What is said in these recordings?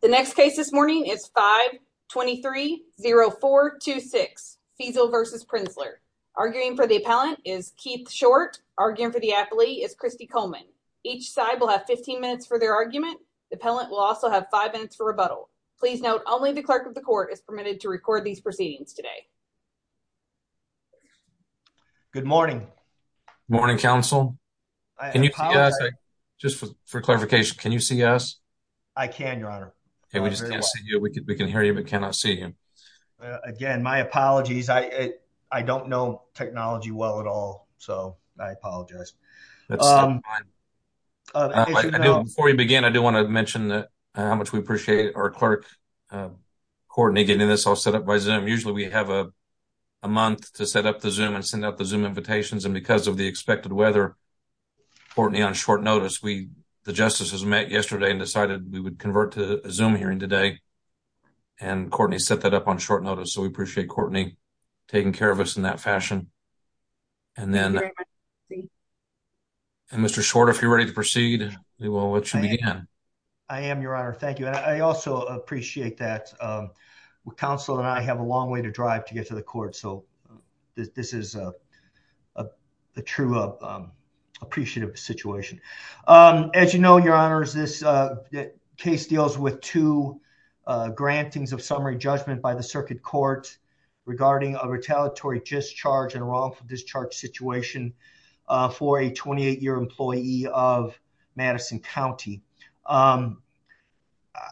The next case this morning is 5-2-3-0-4-2-6 Feezel v. Prenzler. Arguing for the appellant is Keith Short. Arguing for the appellee is Christy Coleman. Each side will have 15 minutes for their argument. The appellant will also have 5 minutes for rebuttal. Please note only the clerk of the court is permitted to record these proceedings today. Good morning. Morning counsel. Can you see us? Just for clarification, can you see us? I can, your honor. Okay, we just can't see you. We can hear you but cannot see you. Again, my apologies. I don't know technology well at all, so I apologize. Before we begin, I do want to mention how much we appreciate our clerk Courtney getting this all set up by Zoom. Usually we have a month to set up the Zoom and send out the Zoom invitations and because of the the justices met yesterday and decided we would convert to a Zoom hearing today and Courtney set that up on short notice, so we appreciate Courtney taking care of us in that fashion. Mr. Short, if you're ready to proceed, we will let you begin. I am, your honor. Thank you. I also appreciate that. Counsel and I have a long way to drive to get to the court, so this is a true appreciative situation. As you know, your honor, this case deals with two grantings of summary judgment by the circuit court regarding a retaliatory discharge and wrongful discharge situation for a 28-year employee of Madison County.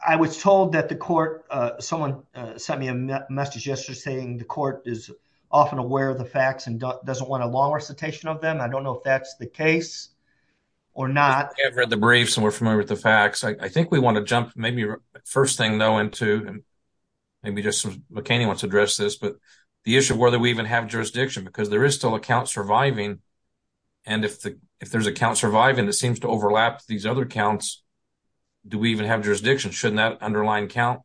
I was told that the court, someone sent me a message yesterday saying the court is often aware of the facts and doesn't want a long recitation of them. I don't know if that's the case or not. I've read the briefs and we're familiar with the facts. I think we want to jump maybe first thing though into, and maybe Mr. McCain wants to address this, but the issue of whether we even have jurisdiction because there is still a count surviving and if there's a count surviving that seems to overlap these other counts, do we even have jurisdiction? Shouldn't that underlying count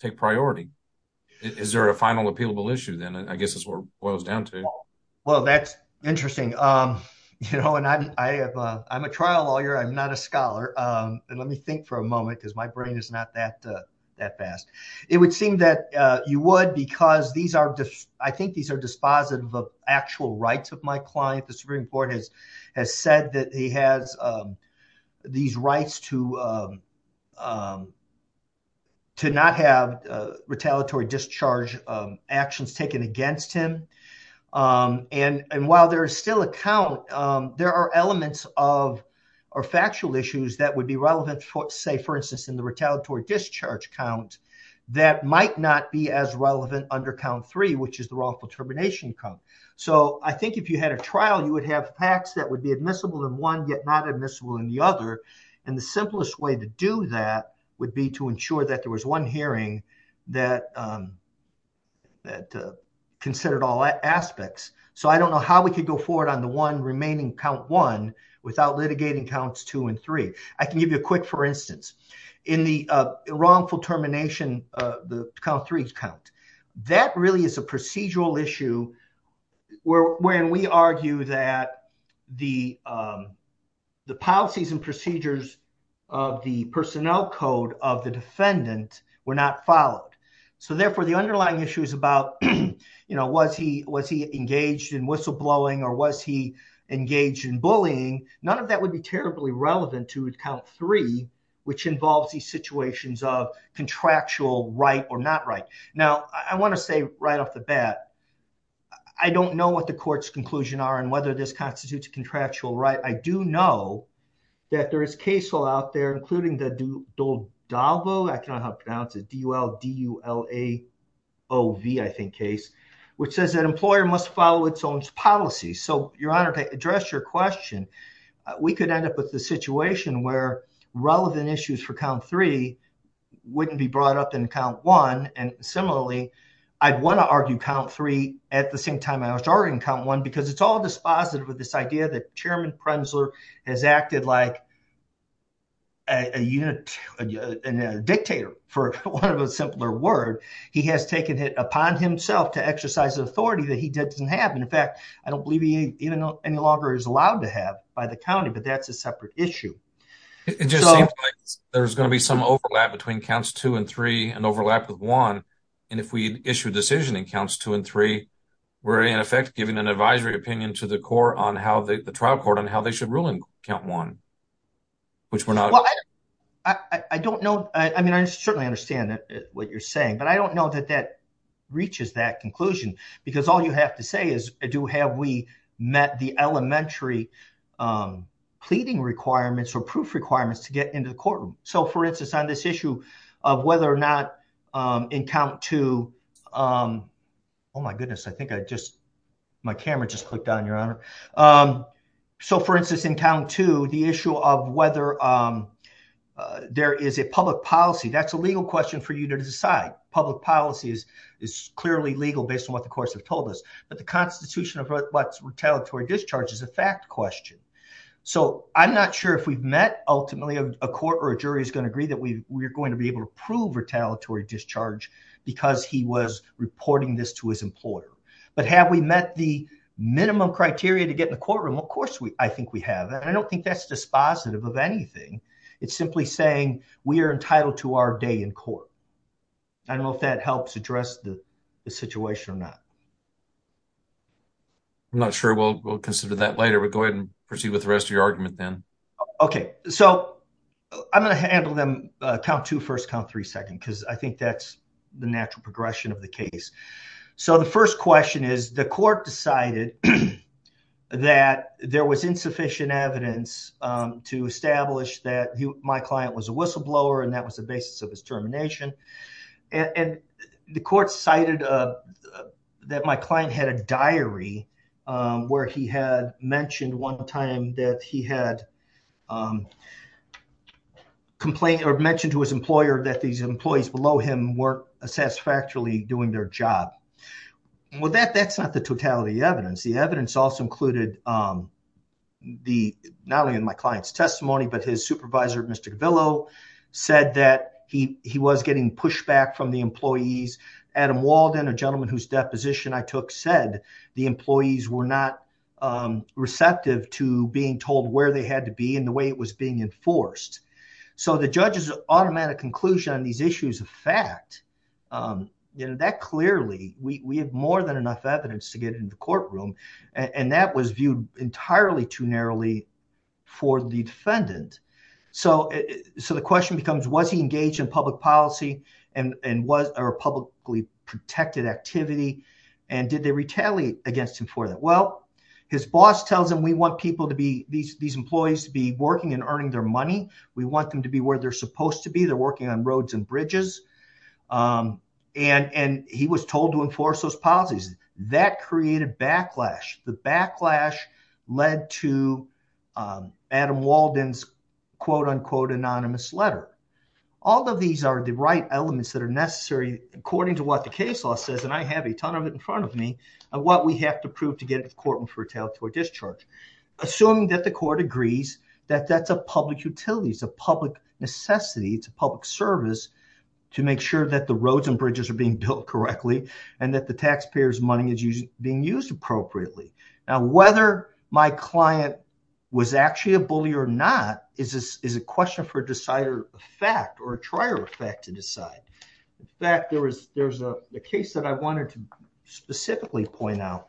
take priority? Is there a final appealable issue then? I guess that's what it boils down to. Well, that's interesting. I'm a trial lawyer. I'm not a scholar. Let me think for a moment because my brain is not that fast. It would seem that you would because I think these are dispositive of actual rights of my client. The Supreme Court has said that he has these rights to not have retaliatory discharge actions taken against him. While there is still a count, there are elements of factual issues that would be relevant say for instance in the retaliatory discharge count that might not be as relevant under count three which is the wrongful termination count. I think if you had a trial you would have facts that would be admissible in one yet not admissible in the other and the simplest way to do that would be to ensure that there was one hearing that considered all aspects. So I don't know how we could go forward on the one remaining count one without litigating counts two and three. I can give you a quick for instance in the wrongful termination count three count that really is a procedural issue where when we argue that the the policies and procedures of the personnel code of the defendant were not followed. So therefore the underlying issue is about you know was he was he engaged in whistleblowing or was he engaged in bullying none of that would be terribly relevant to account three which involves these situations of contractual right or not right. Now I want to say right off the bat I don't know what the court's conclusion are and whether this constitutes a contractual right. I do know that there is case law out there including the doldalvo I cannot help pronounce it d-u-l-d-u-l-a-o-v I think case which says that employer must follow its own policy. So your honor to address your question we could end up with the situation where relevant issues for count three wouldn't be brought up in count one and similarly I'd want to argue count three at the same time I was already in count one because it's all dispositive with this idea that chairman Prenzler has acted like a unit and a dictator for one of a simpler word he has taken it upon himself to exercise the authority that he doesn't have in fact I don't believe he even any longer is allowed to have by the county but that's a separate issue. It just seems like there's going to be some overlap between counts two and three and overlap with one and if we issue a decision in counts two and three we're in effect giving an advisory opinion to the court on how the trial court on how they should rule in count one which we're not I don't know I mean I certainly understand that what you're saying but I don't know that that reaches that conclusion because all you have to say is do have we met the elementary pleading requirements or proof requirements to get into the courtroom so for instance on this issue of whether or not in count two oh my goodness I think I just my camera just clicked on your honor so for instance in count two the issue of whether there is a public policy that's a legal question for you to decide public policy is is clearly legal based on what the courts have told us but the constitution of what's retaliatory discharge is a fact question so I'm not sure if we've met ultimately a court or a jury is going to agree that we we're going to be able to prove retaliatory discharge because he was reporting this to his employer but have we met the minimum criteria to get in the courtroom of course we I think we have and I don't think that's dispositive of anything it's simply saying we are entitled to our day in court I don't know if that helps address the situation or not I'm not sure we'll consider that later but go ahead and proceed with the rest of your argument then okay so I'm going to handle them count two first count three second because I think that's the natural progression of the case so the first question is the court decided that there was insufficient evidence to establish that my client was a whistleblower and that was the basis of his termination and the court cited that my client had a diary where he had mentioned one time that he had complained or mentioned to his employer that these employees below him weren't satisfactorily doing their job well that that's not the totality of evidence the evidence also included the not only in my client's testimony but his supervisor Mr. Gavillo said that he he was getting pushed back from the employees Adam Walden a gentleman whose deposition I took said the employees were not receptive to being told where they had to be and the way it was being enforced so the judge's automatic conclusion on these issues of fact you know that clearly we we have more than enough evidence to get in the courtroom and that was viewed entirely too narrowly for the defendant so so the question becomes was he engaged in public policy and and was a publicly protected activity and did they retaliate against him for that well his boss tells him we want people to be these these employees to be working and earning their money we want them to be where they're supposed to be they're working on roads and bridges and and he was told to enforce those policies that created backlash the backlash led to Adam Walden's quote unquote anonymous letter all of these are the right elements that are necessary according to what the case law says and I have a ton of it in front of me and what we have to prove to get it to court and fertile to a discharge assuming that the court agrees that that's a public utility it's a public necessity it's a public service to make sure that the roads and bridges are being built correctly and that the taxpayers money is being used appropriately now whether my client was actually a fact or a trier effect to decide in fact there was there's a case that I wanted to specifically point out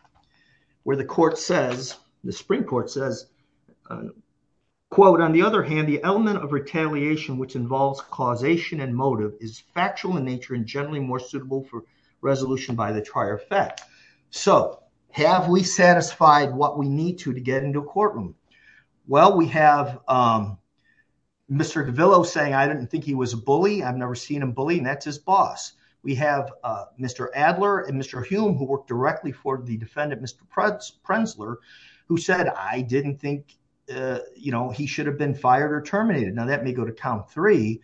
where the court says the Supreme Court says quote on the other hand the element of retaliation which involves causation and motive is factual in nature and generally more suitable for resolution by the trier effect so have we satisfied what we need to to get into a courtroom well we have um Mr. Gavillo saying I didn't think he was a bully I've never seen him bully and that's his boss we have uh Mr. Adler and Mr. Hume who worked directly for the defendant Mr. Prenzler who said I didn't think uh you know he should have been fired or terminated now that may go to count three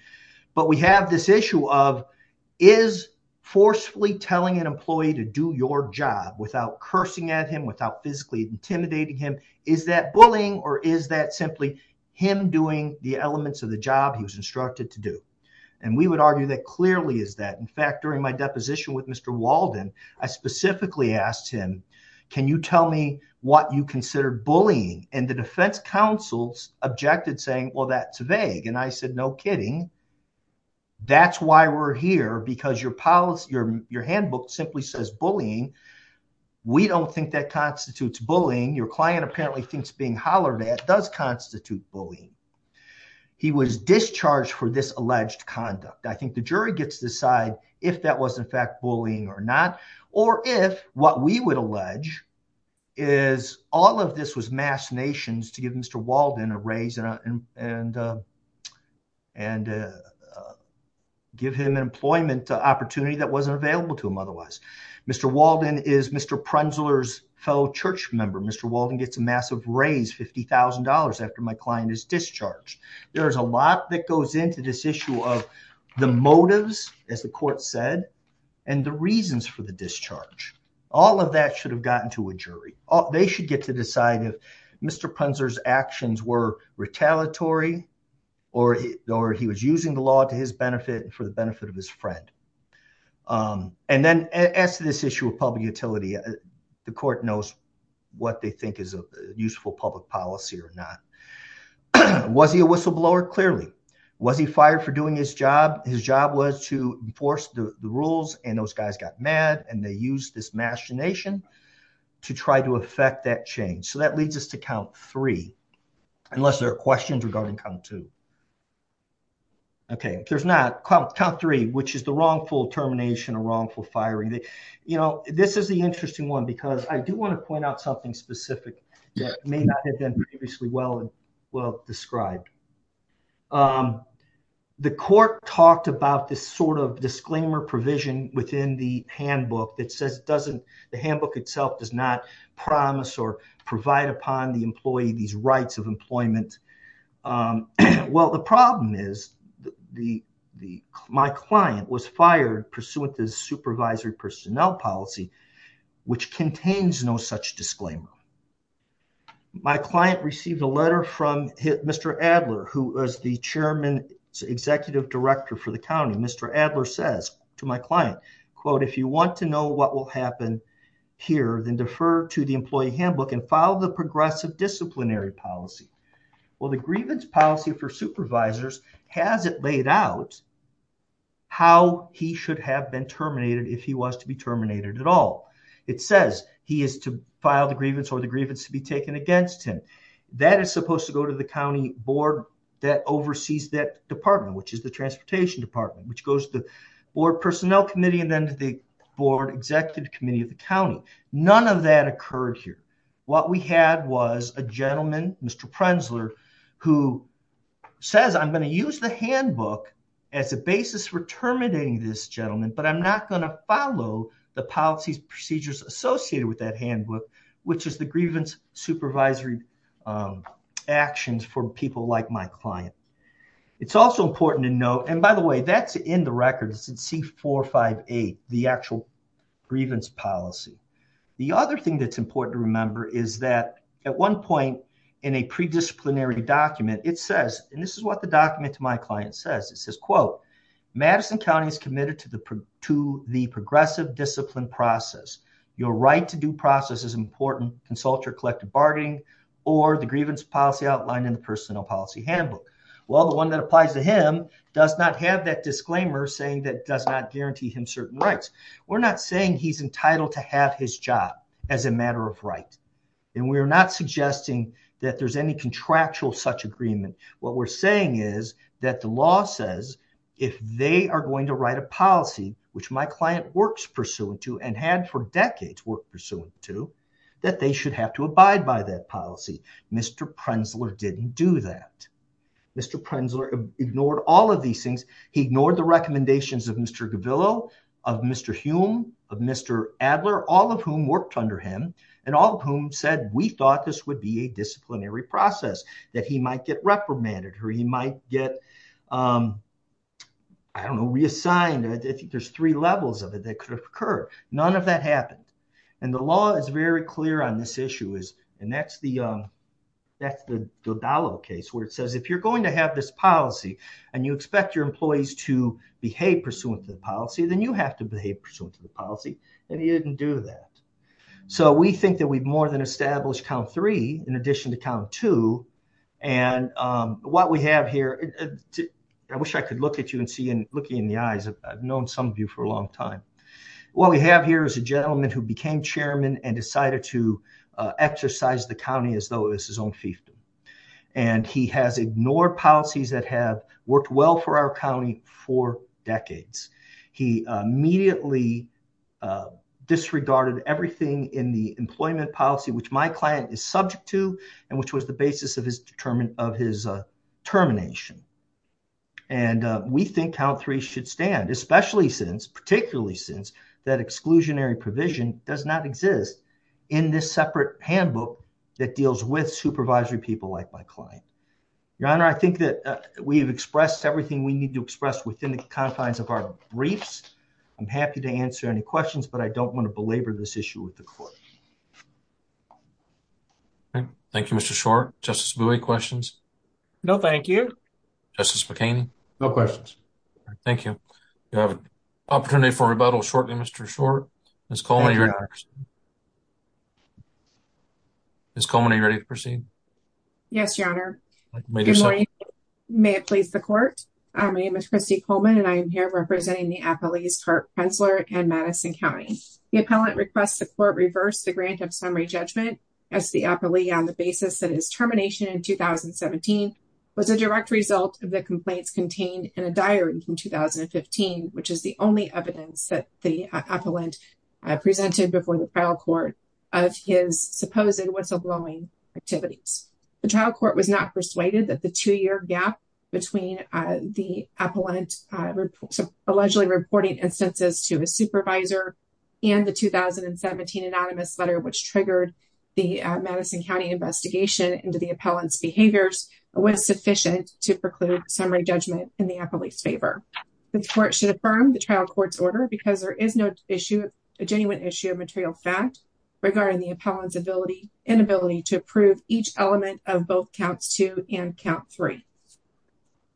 but we have this issue of is forcefully telling an employee to do your job without cursing at him without physically intimidating him is that bullying or is that simply him doing the elements of the job he was instructed to do and we would argue that clearly is that in fact during my deposition with Mr. Walden I specifically asked him can you tell me what you consider bullying and the defense counsels objected saying well that's vague and I said no kidding that's why we're here because your policy your your handbook simply says bullying we don't think that constitutes bullying your client apparently thinks being hollered at does constitute bullying he was discharged for this alleged conduct I think the jury gets to decide if that was in fact bullying or not or if what we would allege is all of this was mass nations to give Mr. Walden a raise and uh and uh and uh give him an employment opportunity that wasn't available to him Mr. Walden is Mr. Prenzler's fellow church member Mr. Walden gets a massive raise fifty thousand dollars after my client is discharged there's a lot that goes into this issue of the motives as the court said and the reasons for the discharge all of that should have gotten to a jury oh they should get to decide if Mr. Prenzler's actions were retaliatory or he or he was using the law to his as to this issue of public utility the court knows what they think is a useful public policy or not was he a whistleblower clearly was he fired for doing his job his job was to enforce the rules and those guys got mad and they used this machination to try to affect that change so that leads us to count three unless there are questions regarding count two okay if there's not count three which is termination or wrongful firing they you know this is the interesting one because i do want to point out something specific that may not have been previously well and well described um the court talked about this sort of disclaimer provision within the handbook that says it doesn't the handbook itself does not promise or provide upon the employee these rights of employment um well the problem is the the my client was fired pursuant to supervisory personnel policy which contains no such disclaimer my client received a letter from hit Mr. Adler who was the chairman executive director for the county Mr. Adler says to my client quote if you want to know what will happen here then defer to the employee handbook and follow the progressive disciplinary policy well the grievance policy for supervisors has it laid out how he should have been terminated if he was to be terminated at all it says he is to file the grievance or the grievance to be taken against him that is supposed to go to the county board that oversees that department which is the transportation department which goes to the board personnel committee and then to the board executive committee of the what we had was a gentleman Mr. Prenzler who says I'm going to use the handbook as a basis for terminating this gentleman but I'm not going to follow the policies procedures associated with that handbook which is the grievance supervisory actions for people like my client it's also important to note and by the way that's in the record it's in c458 the actual grievance policy the other thing that's important to remember is that at one point in a pre-disciplinary document it says and this is what the document to my client says it says quote Madison County is committed to the to the progressive discipline process your right to do process is important consult your collective bargaining or the grievance policy outlined in the personnel policy handbook well the one that applies to him does not have that disclaimer saying that does not guarantee him certain rights we're not saying he's entitled to have his job as a matter of right and we're not suggesting that there's any contractual such agreement what we're saying is that the law says if they are going to write a policy which my client works pursuant to and had for decades work pursuant to that they should have to abide by that policy Mr. Prenzler didn't do that Mr. Prenzler ignored all of these things he ignored the recommendations of Mr. Gavillo of Mr. Hume of Mr. Adler all of whom worked under him and all of whom said we thought this would be a disciplinary process that he might get reprimanded or he might get um I don't know reassigned I think there's three levels of it that could have occurred none of that happened and the law is very clear on this issue is and that's the um that's the Dodalo case where it says if you're going to have this policy and you expect your employees to behave pursuant to the policy then you have to behave pursuant to the policy and he didn't do that so we think that we've more than established count three in addition to count two and um what we have here I wish I could look at you and see and looking in the eyes I've known some of you for a long time what we have here is a gentleman who became chairman and decided to uh exercise the county as though it's his own fiefdom and he has ignored policies that have worked well for our county for decades he immediately disregarded everything in the employment policy which my client is subject to and which was the basis of his determined of his termination and we think count three should stand especially since particularly since that exclusionary provision does not exist in this separate handbook that deals with supervisory people like my client your honor I think that we've expressed everything we need to express within the confines of our briefs I'm happy to answer any questions but I don't want to belabor this issue with the court okay thank you Mr. Short justice buoy questions no thank you justice mckinney no questions thank you you have an opportunity for rebuttal shortly Mr. Short Ms. Coleman are you ready to proceed? Ms. Coleman are you ready to proceed? Yes your honor may it please the court my name is Christy Coleman and I am here representing the appellees Kurt Prentzler and Madison County the appellant requests the court reverse the grant of summary judgment as the appellee on the basis that his termination in 2017 was a direct result of the complaints contained in a diary from 2015 which is the only evidence that the appellant presented before the trial court of his supposed whistleblowing activities the trial court was not persuaded that the two-year gap between the appellant allegedly reporting instances to his supervisor and the 2017 anonymous letter which triggered the Madison County investigation into the appellant's behaviors was sufficient to preclude summary judgment in the appellate's favor the court should affirm the trial court's order because there is no issue a genuine issue of material fact regarding the appellant's ability inability to approve each element of both counts two and count three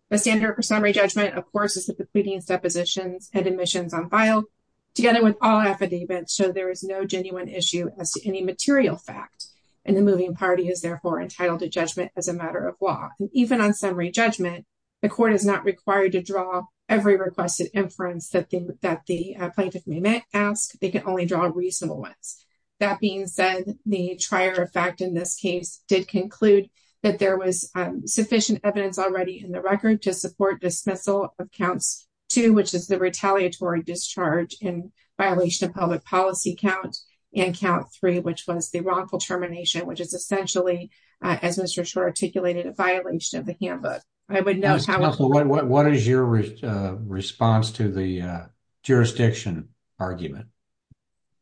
the standard for summary judgment of course is that the pleadings depositions and admissions on file together with all affidavits show there is no genuine issue as to any material fact and the moving party is therefore entitled to judgment as a matter of law even on summary judgment the court is not required to draw every requested inference that they that the plaintiff may ask they can only draw reasonable ones that being said the trier effect in this case did conclude that there was sufficient evidence already in the record to support dismissal of counts two which is the retaliatory discharge in violation of public policy count and count three which was the wrongful termination which is essentially as Mr. Schor articulated a violation of the handbook I would know what is your response to the jurisdiction argument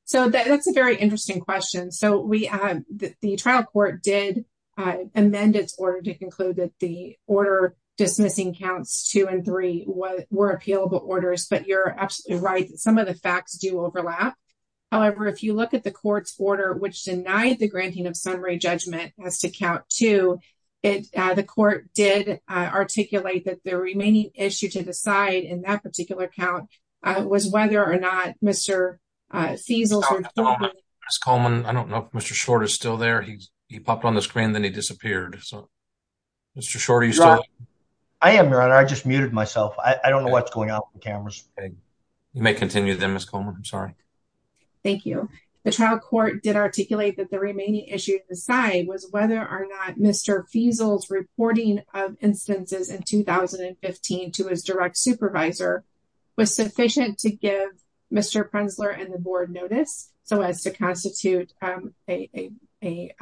so that's a very interesting question so we have the trial court did amend its order to conclude that the order dismissing counts two and three what were appealable orders but you're absolutely right some of the facts do overlap however if you look at the court's order which denied the granting of summary judgment as to count two it uh the court did uh articulate that the remaining issue to decide in that particular count uh was whether or not Mr. uh Fiesel's Ms. Coleman I don't know if Mr. Schor is still there he he popped on the screen then he disappeared so Mr. Schor are you still I am your honor I just muted myself I don't know what's going on with the cameras you may continue then Ms. Coleman I'm sorry thank you the trial court did articulate that the remaining issue to decide was whether or not Mr. Fiesel's reporting of instances in 2015 to his direct supervisor was sufficient to give Mr. Prenzler and the board notice so as to constitute um a a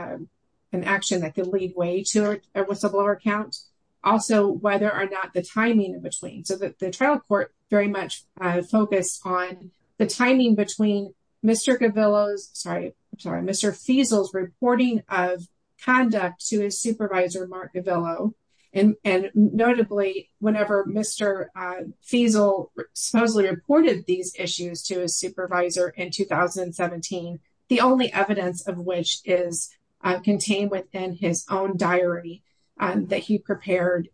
an action that could lead way to a whistleblower count also whether or not the timing in between so that the trial court very much uh focused on the timing between Mr. Gavillo's sorry I'm sorry Mr. Fiesel's reporting of conduct to his supervisor Mark Gavillo and and notably whenever Mr. uh Fiesel supposedly reported these issues to his supervisor in 2017 the only evidence of which is contained within his own diary that he prepared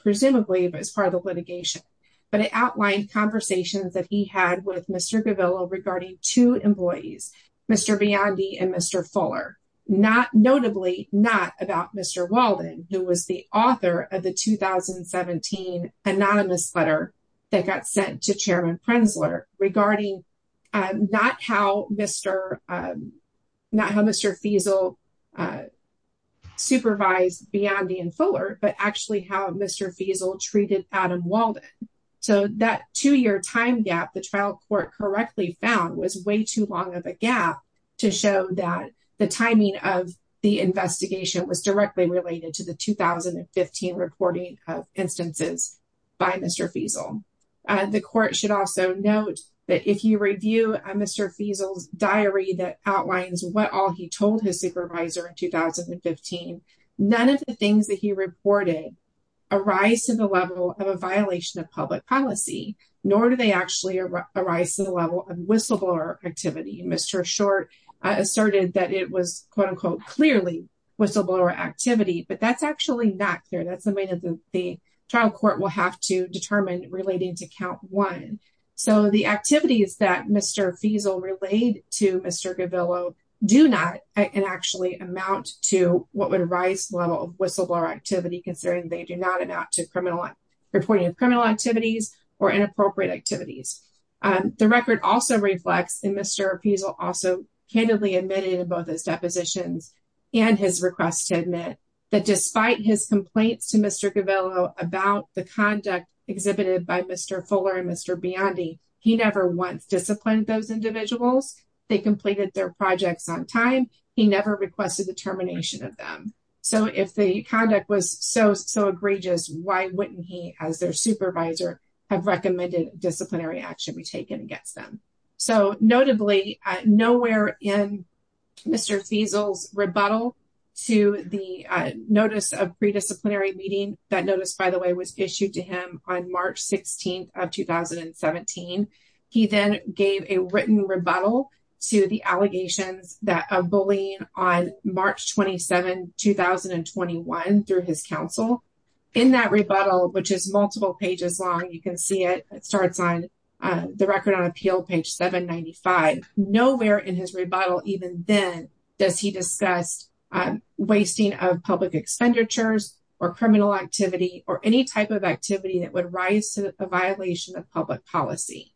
presumably as part of the litigation but it outlined conversations that he had with Mr. Gavillo regarding two employees Mr. Biondi and Mr. Fuller not notably not about Mr. Walden who was the author of the 2017 anonymous letter that got sent to Chairman Prenzler regarding um not how Mr um not how Mr. Fiesel uh supervised Biondi and Fuller but actually how Mr. Fiesel treated Adam Walden so that two-year time gap the trial court correctly found was way too long of a gap to show that the timing of the investigation was directly related to the 2015 reporting of instances by Mr. Fiesel and the court should also note that if you review Mr. Fiesel's diary that outlines what all he told his supervisor in 2015 none of the things that he reported arise to the level of a violation of the level of whistleblower activity Mr. Short asserted that it was quote-unquote clearly whistleblower activity but that's actually not clear that's something that the trial court will have to determine relating to count one so the activities that Mr. Fiesel relayed to Mr. Gavillo do not and actually amount to what would rise level whistleblower activity considering they do not amount to criminal reporting of criminal activities or inappropriate activities the record also reflects in Mr. Fiesel also candidly admitted in both his depositions and his request to admit that despite his complaints to Mr. Gavillo about the conduct exhibited by Mr. Fuller and Mr. Biondi he never once disciplined those individuals they completed their projects on time he never requested the termination of them so if the conduct was so so egregious why wouldn't he as their supervisor have recommended disciplinary action be taken against them so notably nowhere in Mr. Fiesel's rebuttal to the notice of pre-disciplinary meeting that notice by the way was issued to him on March 16th of 2017 he then gave a written rebuttal to the allegations that of bullying on March 27 2021 through his counsel in that rebuttal which is multiple pages long you can see it it starts on the record on appeal page 795 nowhere in his rebuttal even then does he discuss wasting of public expenditures or criminal activity or any type of activity that would rise to a violation of public policy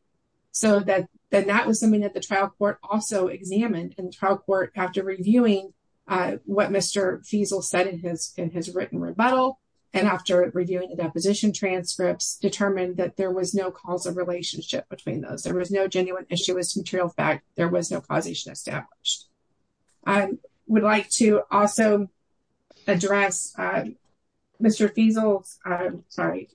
so that then that was something that the trial court also examined in trial court after reviewing what Mr. Fiesel said in his in his written rebuttal and after reviewing the deposition transcripts determined that there was no cause of relationship between those there was no genuine issuance material fact there was no causation established i would like to also address Mr. Fiesel's sorry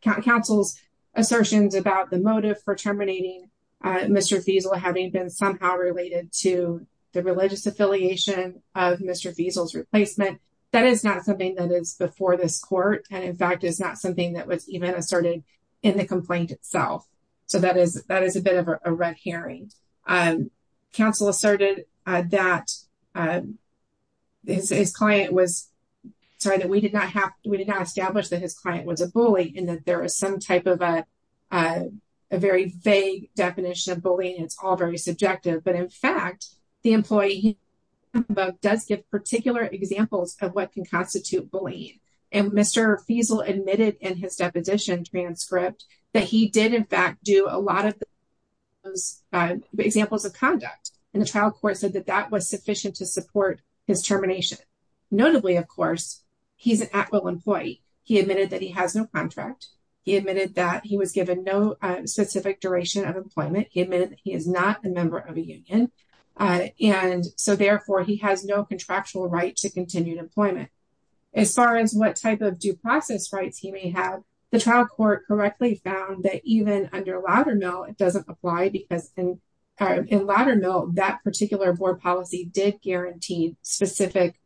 counsel's assertions about the motive for terminating Mr. Fiesel having been somehow related to the religious affiliation of Mr. Fiesel's replacement that is not something that is before this court and in fact is not something that was even asserted in the complaint itself so that is that is a bit of a red herring um counsel asserted uh that his client was sorry that we did not have we did not establish that his client was a bully and that there is some type of a very vague definition of bullying it's all very subjective but in fact the employee above does give particular examples of what can constitute bullying and Mr. Fiesel admitted in his deposition transcript that he did in fact do a lot of those examples of conduct and the trial court said that that was sufficient to support his termination notably of course he's an at-will employee he admitted that he has no contract he was given no specific duration of employment he admitted he is not a member of a union and so therefore he has no contractual right to continued employment as far as what type of due process rights he may have the trial court correctly found that even under Loudermill it doesn't apply because in in Loudermill that particular board policy did guarantee specific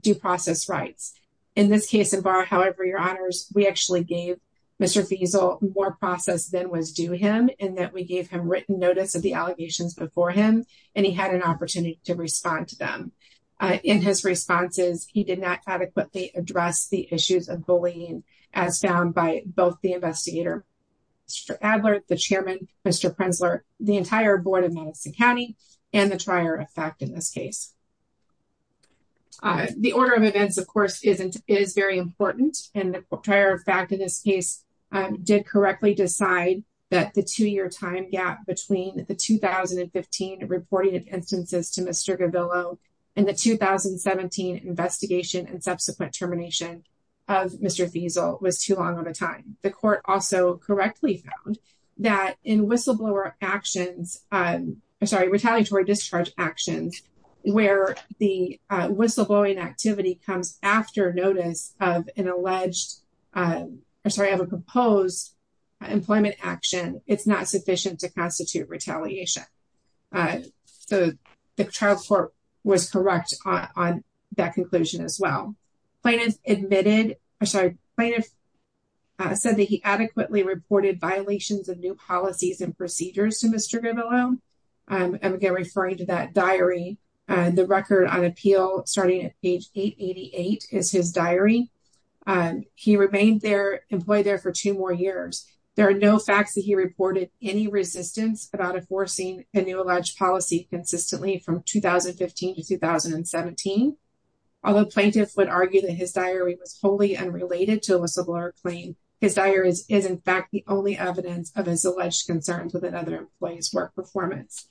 due process rights in this case in bar however your honors we actually gave Mr. Fiesel more process than was due him and that we gave him written notice of the allegations before him and he had an opportunity to respond to them in his responses he did not adequately address the issues of bullying as found by both the investigator Mr. Adler the chairman Mr. Prenzler the entire board of Madison county and the trier of fact in this case the order of events of course isn't is important and the prior fact in this case did correctly decide that the two-year time gap between the 2015 reporting of instances to Mr. Gavillo and the 2017 investigation and subsequent termination of Mr. Fiesel was too long of a time the court also correctly found that in whistleblower actions i'm sorry retaliatory discharge actions where the whistleblowing activity comes after notice of an alleged i'm sorry of a composed employment action it's not sufficient to constitute retaliation uh so the trial court was correct on that conclusion as well plaintiff admitted i'm sorry plaintiff said that he adequately reported violations of new policies and procedures to Mr. Gavillo um i'm again referring to that diary and the record on appeal starting at page 888 is his diary um he remained there employed there for two more years there are no facts that he reported any resistance about enforcing a new alleged policy consistently from 2015 to 2017 although plaintiffs would argue that his diary was wholly unrelated to a whistleblower claim his diaries is in fact the only evidence of his alleged concerns within other employees work performance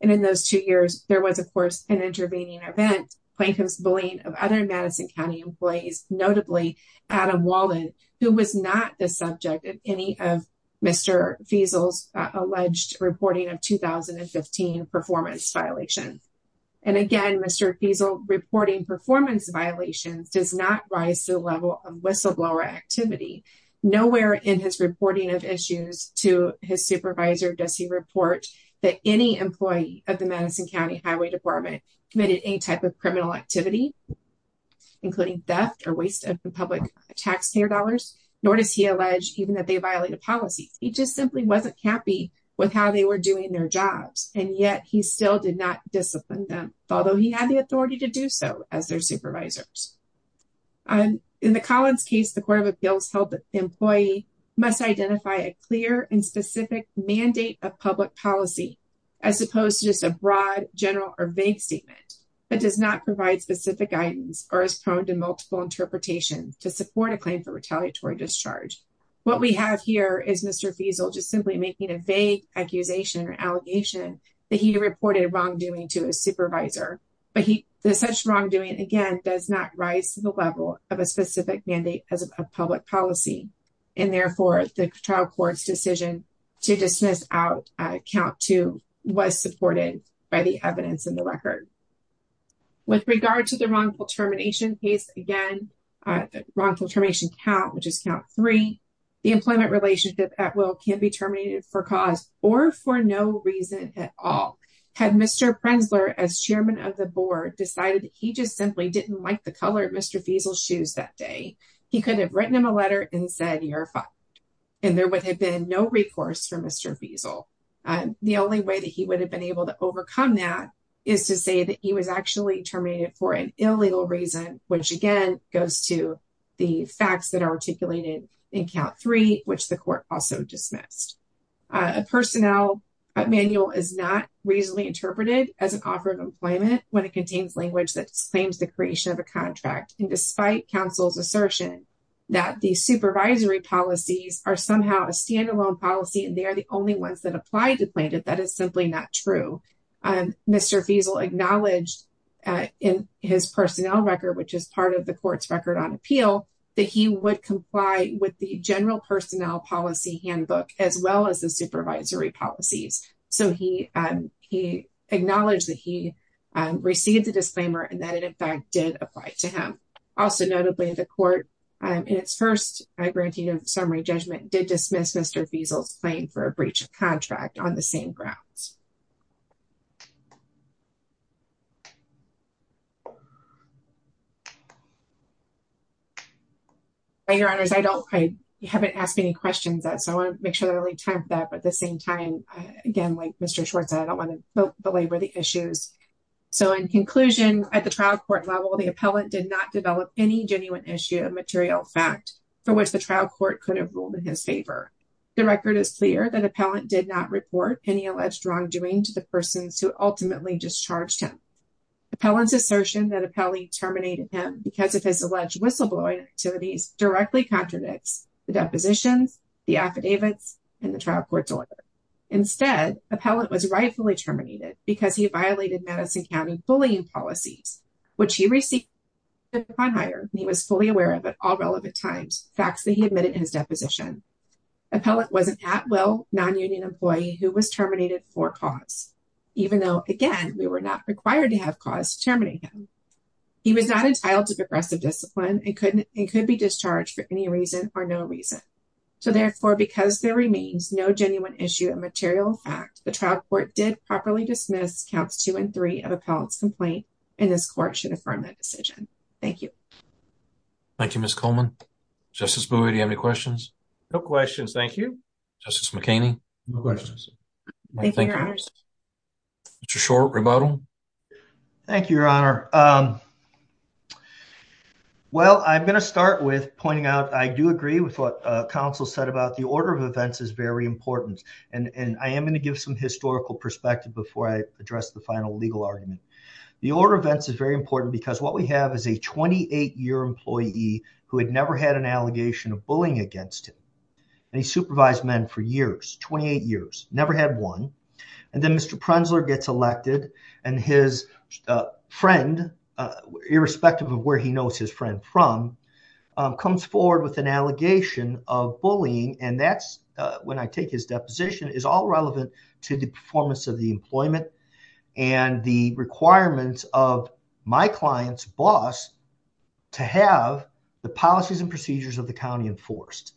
and in those two years there was of an intervening event plaintiff's bullying of other madison county employees notably adam walden who was not the subject of any of Mr. Fiesel's alleged reporting of 2015 performance violations and again Mr. Fiesel reporting performance violations does not rise to the level of whistleblower activity nowhere in his reporting of issues to his supervisor does he report that any employee of the madison county highway department committed any type of criminal activity including theft or waste of the public taxpayer dollars nor does he allege even that they violated policies he just simply wasn't happy with how they were doing their jobs and yet he still did not discipline them although he had the authority to do so as their supervisors um in the collins case the court of appeals held that the employee must identify a clear and specific mandate of public policy as opposed to just a broad general or vague statement that does not provide specific guidance or is prone to multiple interpretations to support a claim for retaliatory discharge what we have here is Mr. Fiesel just simply making a vague accusation or allegation that he reported wrongdoing to his supervisor but he the such wrongdoing again does not rise to the level of a specific mandate as a public policy and therefore the trial court's decision to dismiss out count two was supported by the evidence in the record with regard to the wrongful termination case again wrongful termination count which is count three the employment relationship at will can be terminated for cause or for no reason at all had Mr. Prenzler as chairman of the board decided he just simply didn't like the color of Mr. Fiesel's shoes that day he could have written him a letter and verified and there would have been no recourse for Mr. Fiesel and the only way that he would have been able to overcome that is to say that he was actually terminated for an illegal reason which again goes to the facts that are articulated in count three which the court also dismissed a personnel manual is not reasonably interpreted as an offer of employment when it contains language that claims the creation of a contract and despite counsel's assertion that these supervisory policies are somehow a standalone policy and they are the only ones that apply to plaintiff that is simply not true and Mr. Fiesel acknowledged in his personnel record which is part of the court's record on appeal that he would comply with the general personnel policy handbook as well as the supervisory policies so he acknowledged that he received the disclaimer and that it in also notably the court in its first granting of summary judgment did dismiss Mr. Fiesel's claim for a breach of contract on the same grounds by your honors i don't i haven't asked any questions that so i want to make sure that i leave time for that but at the same time again like Mr. Schwartz i don't want to belabor the issues so in conclusion at the trial court level the appellant did not develop any genuine issue of material fact for which the trial court could have ruled in his favor the record is clear that appellant did not report any alleged wrongdoing to the persons who ultimately discharged him appellant's assertion that appellee terminated him because of his alleged whistleblowing activities directly contradicts the depositions the affidavits and the trial court's order instead appellant was rightfully terminated because he violated madison county bullying policies which he received upon hire and he was fully aware of at all relevant times facts that he admitted his deposition appellant was an at-will non-union employee who was terminated for cause even though again we were not required to have cause to terminate him he was not entitled to progressive discipline and couldn't it could be discharged for any reason or no reason so therefore because there remains no genuine issue of material fact the trial court did properly dismiss counts two and three of appellant's complaint and this court should affirm that decision thank you thank you miss coleman justice buoy do you have any questions no questions thank you justice mckinney no questions thank you your honor it's a short rebuttal thank you your honor um well i'm going to start with pointing out i do agree with what counsel said about the order of events is very important and and i am going to give some historical perspective before i address the final legal argument the order of events is very important because what we have is a 28 year employee who had never had an allegation of bullying against him and he supervised men for years 28 years never had one and then mr prenzler gets elected and his friend irrespective of where he knows his friend from comes forward with an allegation of bullying and that's when i take his deposition is all relevant to the performance of the employment and the requirements of my client's boss to have the policies and procedures of the county enforced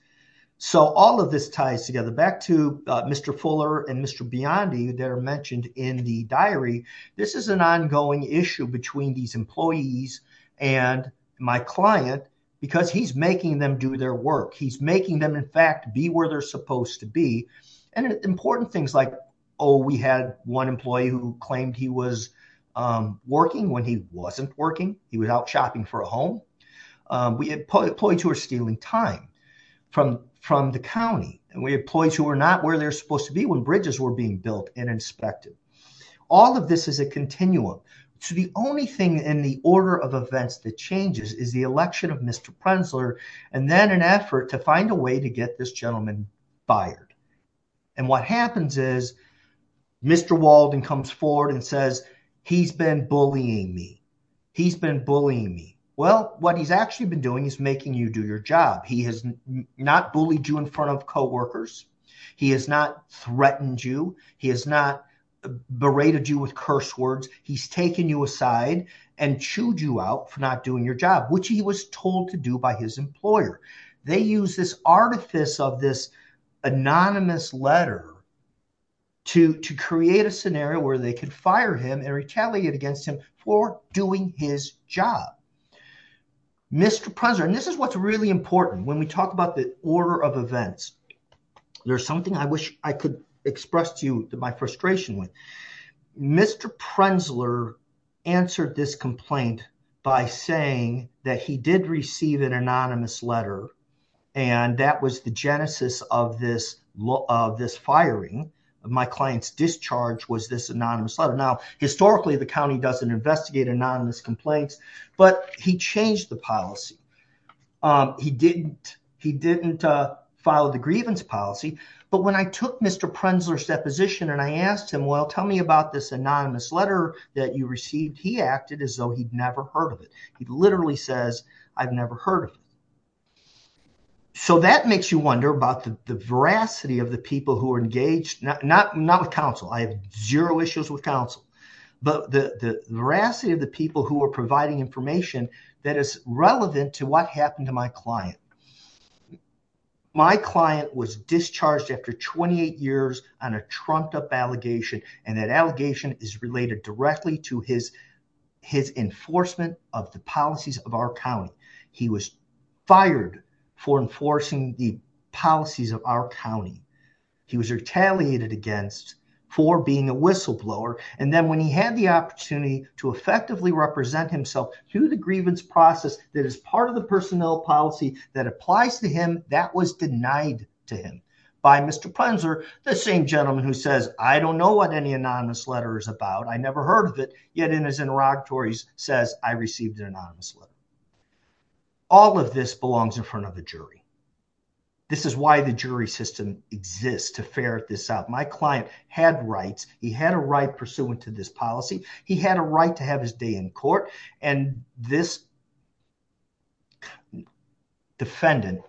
so all of this ties together back to mr fuller and mr beyond you that are mentioned in the diary this is an ongoing issue between these employees and my client because he's making them do their work he's making them in fact be where they're supposed to be and important things like oh we had one employee who claimed he was working when he wasn't working he was out shopping for a home we had employees who were stealing time from from the county and we had employees who were not where they're supposed to be when bridges were being built and inspected all of this is a continuum so the only thing in the order of events that changes is the election of mr prenzler and then an effort to find a way to get this gentleman fired and what happens is mr walden comes forward and says he's been bullying me he's been bullying me well what he's actually been doing is making you do your job he has not bullied you in front of co-workers he has not berated you with curse words he's taken you aside and chewed you out for not doing your job which he was told to do by his employer they use this artifice of this anonymous letter to to create a scenario where they could fire him and retaliate against him for doing his job mr president this is what's really important when we talk about the order of events there's something i wish i could express to you that my frustration with mr prenzler answered this complaint by saying that he did receive an anonymous letter and that was the genesis of this of this firing my client's discharge was this anonymous letter now historically the county doesn't investigate anonymous complaints but he changed the policy um he didn't he didn't uh file the grievance policy but when i took mr prenzler's deposition and i asked him well tell me about this anonymous letter that you received he acted as though he'd never heard of it he literally says i've never heard of it so that makes you wonder about the veracity of the people who are engaged not not with counsel i have zero issues with counsel but the the veracity of the people who are providing information that is relevant to what happened to my client my client was discharged after 28 years on a trumped up allegation and that allegation is related directly to his his enforcement of the policies of our county he was fired for enforcing the policies of our county he was retaliated against for being a whistleblower and then when he had the opportunity to effectively represent himself through the grievance process that is part of the personnel policy that applies to him that was denied to him by mr prenzler the same gentleman who says i don't know what any anonymous letter is about i never heard of it yet in his interrogatories says i received an anonymous letter all of this belongs in front of the jury this is why the jury system exists to ferret this out my client had rights he had a right pursuant to this policy he had a right to have his day in court and this defendant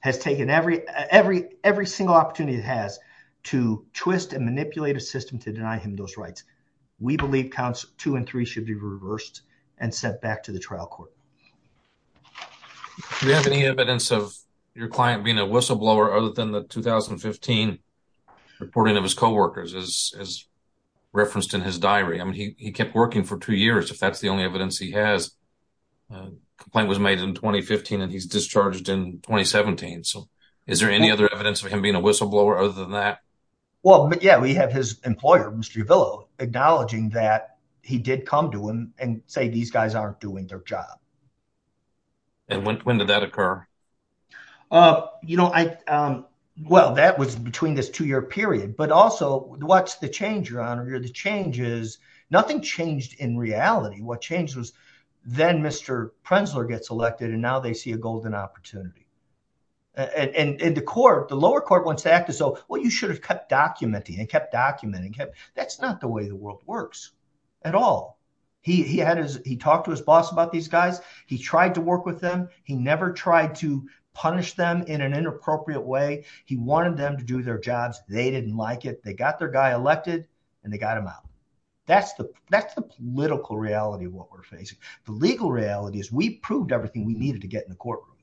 has taken every every every single opportunity it has to twist and manipulate a system to deny him those rights we believe counts two and three should be reversed and sent back to the trial court do you have any evidence of your client being a whistleblower other than the 2015 reporting of his co-workers as as referenced in his diary i mean he he kept working for two years if that's the only evidence he has a complaint was made in 2015 and he's discharged in 2017 so is there any other evidence of him being a whistleblower other than that well but yeah we have his employer mr uvillo acknowledging that he did come to him and say these guys aren't doing their job and when when did that occur uh you know i um well that was between this two-year period but also what's the change your honor the change is nothing changed in reality what changed was then mr prensler gets elected and now they see a golden opportunity and and and the court the lower court wants to act as though well you should have kept documenting and kept documenting him that's not the way the world works at all he he had his he talked to his boss about these guys he tried to work with them he never tried to punish them in an inappropriate way he wanted them to do their jobs they didn't like it they got their guy elected and they got him out that's the that's the political reality of what we're facing the legal reality is we proved everything we needed to get in the courtroom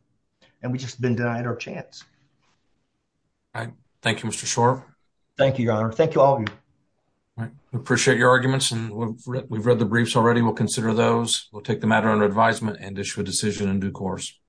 and we just been denied our chance all right thank you mr shore thank you your honor thank you all of you all right we appreciate your arguments and we've read the briefs already we'll consider those we'll take the matter under advisement and issue a decision in due course